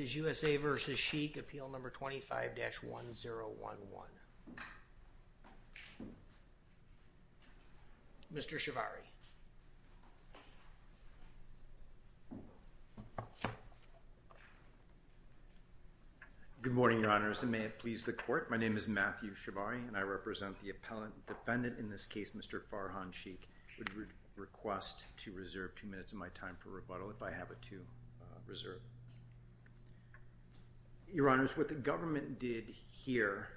USA v. Sheikh, appeal number 25-1011. Mr. Shivari. Good morning, Your Honors, and may it please the Court. My name is Matthew Shivari, and I represent the appellant defendant. In this case, Mr. Farhan Sheikh would request to reserve two minutes of my time for rebuttal if I have it to reserve. Your Honors, what the government did here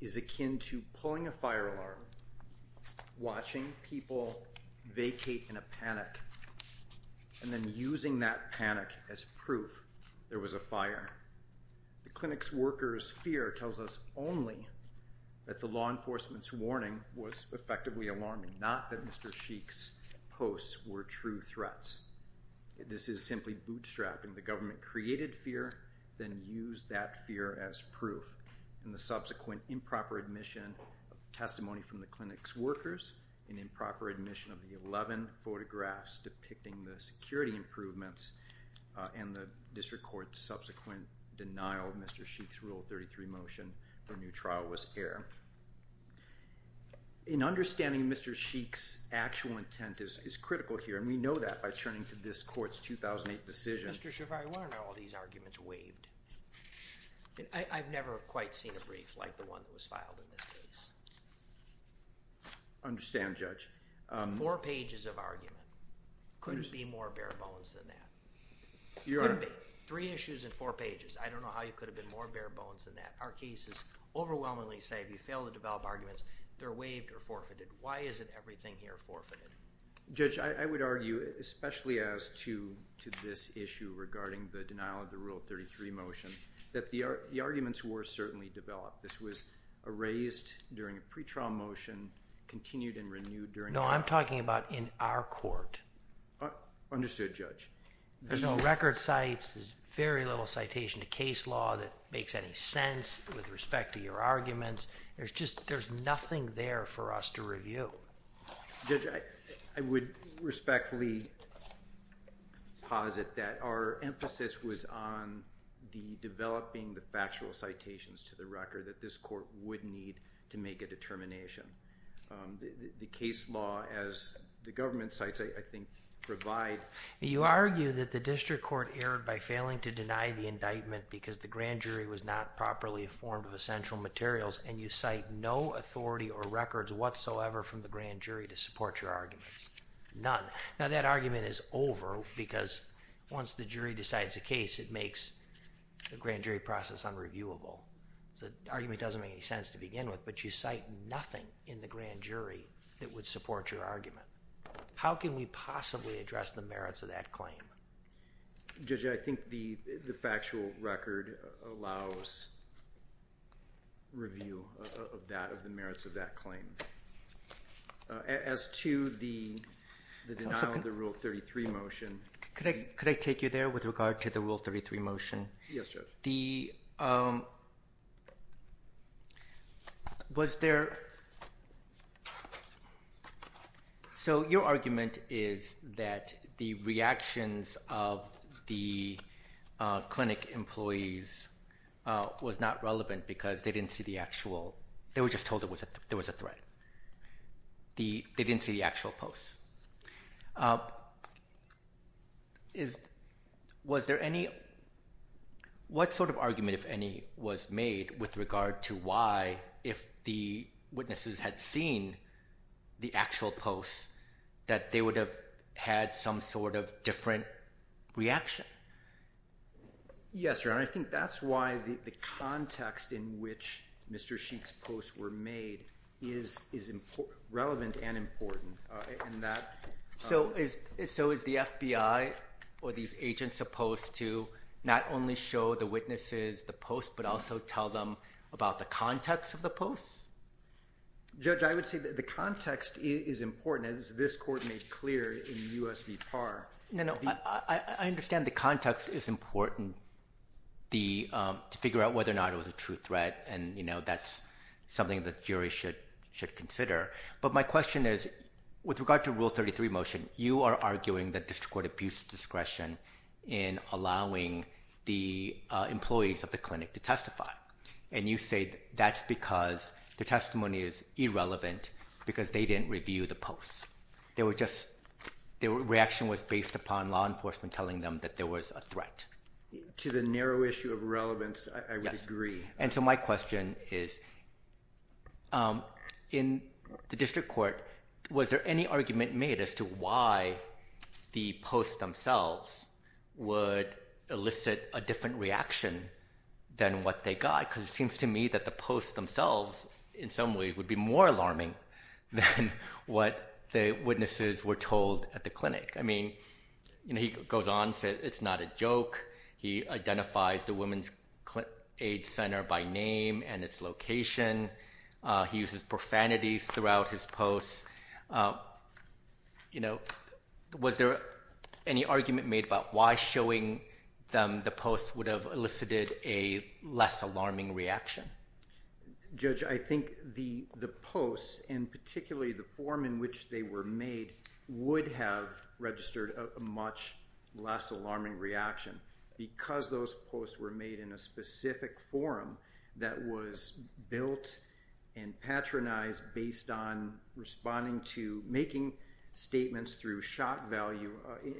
is akin to pulling a fire alarm, watching people vacate in a panic, and then using that panic as proof there was a fire. The clinic's workers' fear tells us only that the law enforcement's warning was effectively alarming, not that Mr. Sheikh's posts were true threats. This is simply bootstrapping. The government created fear, then used that fear as proof, and the subsequent improper admission of testimony from the clinic's workers, an improper admission of the 11 photographs depicting the security improvements, and the district court's subsequent denial of Mr. Sheikh's Rule 33 motion for a new trial was air. In understanding Mr. Sheikh's actual intent is critical here, and we know that by turning to this Court's 2008 decision. Mr. Shivari, why aren't all these arguments waived? I've never quite seen a brief like the one that was filed in this case. I understand, Judge. Four pages of argument. Couldn't be more bare-bones than that. Your Honor. Couldn't be. Three issues and four pages. I don't know how you could have been more bare-bones than that. Our cases overwhelmingly say if you fail to develop arguments, they're waived or forfeited. Why isn't everything here forfeited? Judge, I would argue, especially as to this issue regarding the denial of the Rule 33 motion, that the arguments were certainly developed. This was erased during a pretrial motion, continued and renewed during a trial. No, I'm talking about in our court. Understood, Judge. There's no record sites. There's very little citation to case law that makes any sense with respect to your arguments. There's just, there's nothing there for us to review. Judge, I would respectfully posit that our emphasis was on the developing the factual citations to the record that this Court would need to make a determination. The case law, as the government cites, I think, provide... You argue that the District Court erred by failing to deny the indictment because the grand jury was not properly informed of essential materials and you cite no authority or records whatsoever from the grand jury to support your arguments. None. Now, that argument is over because once the jury decides a case, it makes the grand jury process unreviewable. The argument doesn't make any sense to begin with, but you cite nothing in the grand jury that would support your argument. How can we possibly address the merits of that claim? Judge, I think the factual record allows review of the merits of that claim. As to the denial of the Rule 33 motion... Could I take you there with regard to the Rule 33 motion? Yes, Judge. Was there... So, your argument is that the reactions of the clinic employees was not relevant because they didn't see the Was there any... What sort of argument, if any, was made with regard to why, if the witnesses had seen the actual posts, that they would have had some sort of different reaction? Yes, Your Honor. I think that's why the context in which Mr. Sheik's posts were made is relevant and important in that... So, is the FBI or these agents supposed to not only show the witnesses the posts, but also tell them about the context of the posts? Judge, I would say that the context is important, as this Court made clear in U.S. v. Parr. No, no. I understand the context is important to figure out whether or not it was a true threat, and that's something that the jury should consider. But my question is, with regard to the Rule 33 motion, you are arguing that district court abuse discretion in allowing the employees of the clinic to testify, and you say that's because the testimony is irrelevant because they didn't review the posts. They were just... Their reaction was based upon law enforcement telling them that there was a threat. To the issue of relevance, I would agree. And so my question is, in the district court, was there any argument made as to why the posts themselves would elicit a different reaction than what they got? Because it seems to me that the posts themselves, in some ways, would be more alarming than what the witnesses were told at the clinic. I mean, he goes on to say it's not a joke. He identifies the Women's Aid Center by name and its location. He uses profanities throughout his posts. Was there any argument made about why showing them the posts would have elicited a less alarming reaction? Judge, I think the posts, and particularly the form in which they were made, would have registered a much less alarming reaction because those posts were made in a specific forum that was built and patronized based on responding to making statements through shock value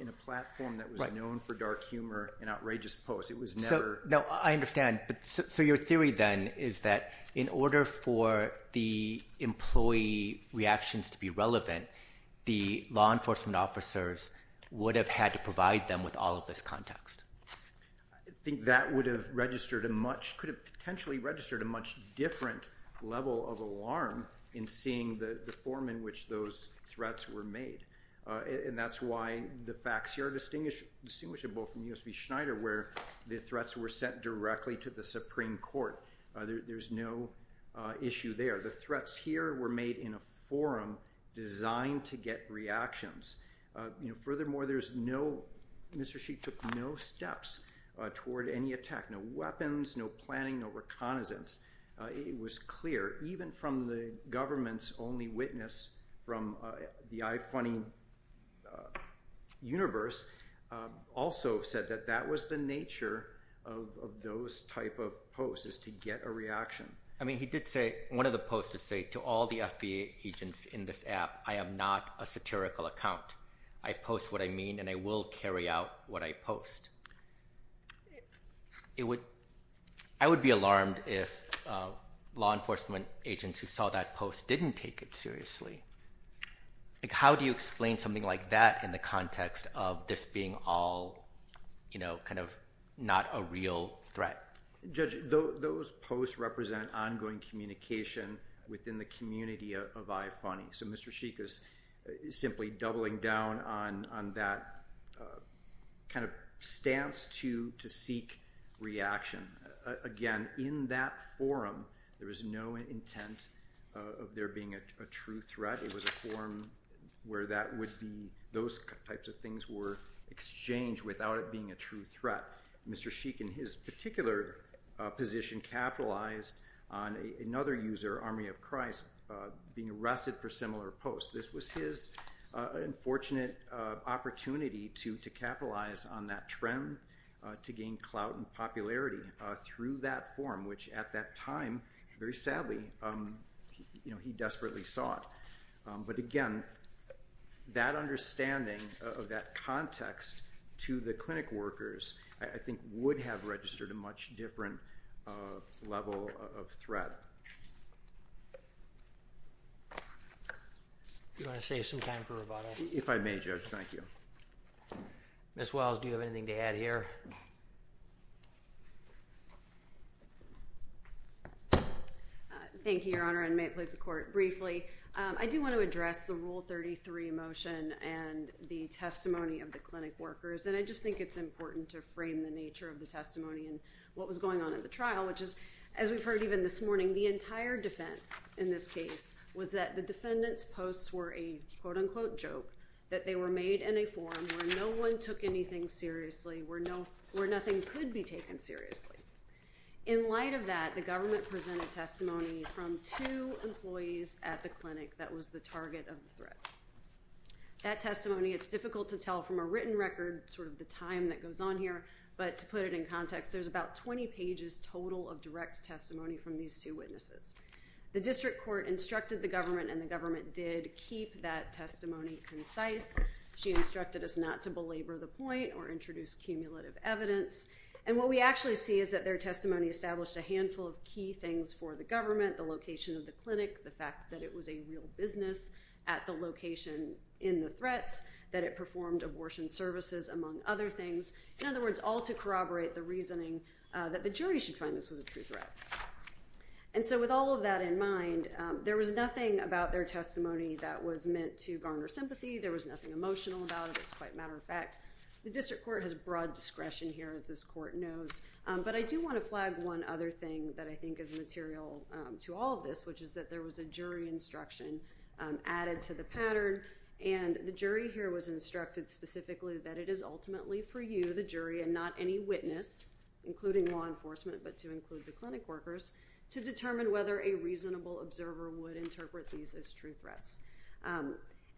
in a platform that was known for dark humor and outrageous posts. It was never... No, I understand. So your theory then is that in order for the employee reactions to be relevant, the law enforcement officers would have had to provide them with all of this context. I think that could have potentially registered a much different level of alarm in seeing the form in which those threats were made. And that's why the facts here are distinguishable from USB Schneider, where the threats were sent directly to the Supreme Court. There's no issue there. The get reactions. Furthermore, there's no... Mr. Sheik took no steps toward any attack, no weapons, no planning, no reconnaissance. It was clear, even from the government's only witness from the I-20 universe, also said that that was the nature of those type of posts, is to get a I am not a satirical account. I post what I mean and I will carry out what I post. I would be alarmed if law enforcement agents who saw that post didn't take it seriously. How do you explain something like that in the context of this being all kind of not a real threat? Judge, those posts represent ongoing communication within the community of I-20. So Mr. Sheik is simply doubling down on that kind of stance to seek reaction. Again, in that forum, there was no intent of there being a true threat. It was a forum where those types of things were exchanged without it being a true threat. Mr. Sheik, in his particular position, capitalized on another user, Army of Christ, being arrested for similar posts. This was his unfortunate opportunity to capitalize on that trend to gain clout and popularity through that forum, which at that time, very sadly, he desperately sought. But again, that understanding of that context to the clinic workers, I think, would have registered a much different level of threat. Do you want to save some time for rebuttal? If I may, Judge, thank you. Ms. Wells, do you have anything to add here? Thank you, Your Honor, and may it please the Court. Briefly, I do want to address the Rule 33 motion and the testimony of the clinic workers, and I just think it's important to frame the nature of the testimony and what was going on at the trial, which is, as we've heard even this morning, the entire defense in this case was that the defendants' posts were a quote-unquote joke, that they were made in a forum where no one took anything seriously, where nothing could be taken seriously. In light of that, the government presented testimony from two employees at the clinic that was the target of the threats. That testimony, it's difficult to tell from a written record sort of the time that goes on here, but to put it in context, there's about 20 pages total of direct testimony from these two witnesses. The district court instructed the government, and the government did keep that testimony concise. She instructed us not to belabor the point or introduce cumulative evidence, and what we actually see is that their testimony established a handful of key things for the government, the location of the clinic, the fact that it was a real business at the location in the threats, that it performed abortion services, among other things. In other words, all to corroborate the reasoning that the jury should find this was a true threat. And so with all of that in mind, there was nothing about their testimony that was meant to garner sympathy, there was nothing emotional about it, as a matter of fact. The district court has broad discretion here, as this court knows, but I do want to flag one other thing that I think is material to all of this, which is that there was a jury instruction added to the pattern, and the jury here was instructed specifically that it is ultimately for you, the jury, and not any witness, including law enforcement, but to include the clinic workers, to determine whether a reasonable observer would interpret these as true threats.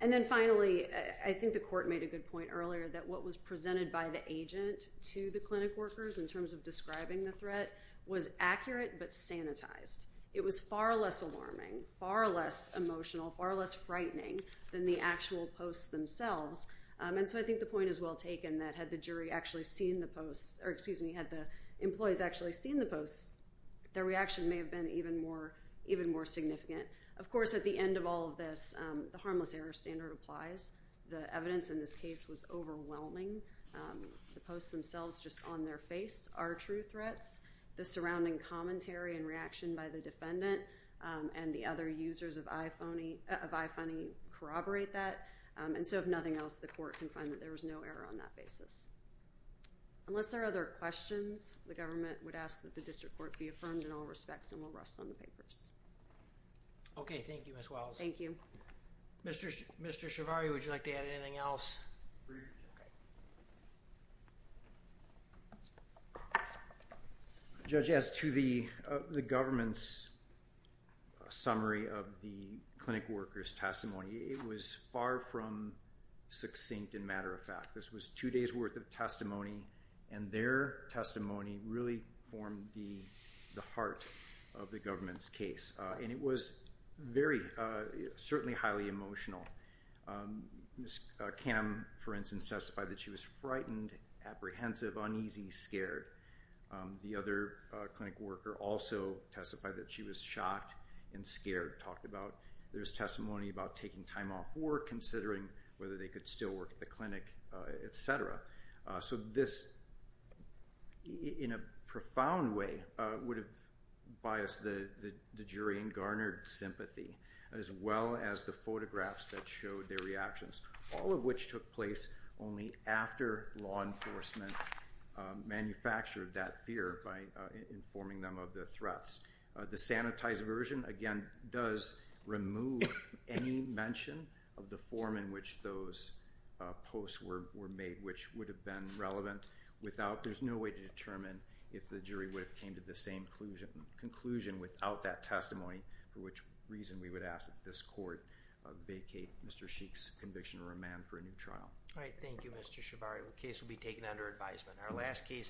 And then finally, I think the court made a good point earlier that what was presented by the agent to the clinic workers, in terms of describing the threat, was accurate but sanitized. It was far less alarming, far less emotional, far less frightening than the actual posts themselves. And so I think the point is well taken that had the jury actually seen the posts, or excuse me, had the employees actually seen the posts, their reaction may have been even more significant. Of course, at the end of all of this, the harmless error standard applies. The evidence in this case was overwhelming. The posts themselves, just on their face, are true threats. The surrounding commentary and reaction by the defendant and the other users of iPhoney corroborate that, and so if nothing else, the court can find that there was no error on that basis. Unless there are other questions, the government would ask that the district court be affirmed in all respects, and we'll rest on the papers. Okay, thank you, Ms. Wells. Thank you. Mr. Ciavarri, would you like to add anything else? Judge, as to the government's summary of the clinic workers' testimony, it was far from succinct, in matter of fact. This was two days worth of testimony, and their testimony really formed the heart of the government's case, and it was very, certainly highly emotional. Ms. Kam, for instance, testified that she was frightened, apprehensive, uneasy, scared. The other clinic worker also testified that she was shocked and scared, talked about there's testimony about taking time off work, considering whether they could still work at the clinic, etc. So this, in a profound way, would have biased the jury and garnered sympathy, as well as the photographs that showed their reactions, all of which took place only after law enforcement manufactured that fear by informing them of the threats. The sanitized version, again, does remove any mention of the form in which those posts were made which would have been relevant. There's no way to determine if the jury would have came to the same conclusion without that testimony, for which reason we would ask that this court vacate Mr. Sheik's conviction and remand for a new trial. All right, thank you, Mr. Ciavarri. The case will be taken under advisement. Our last case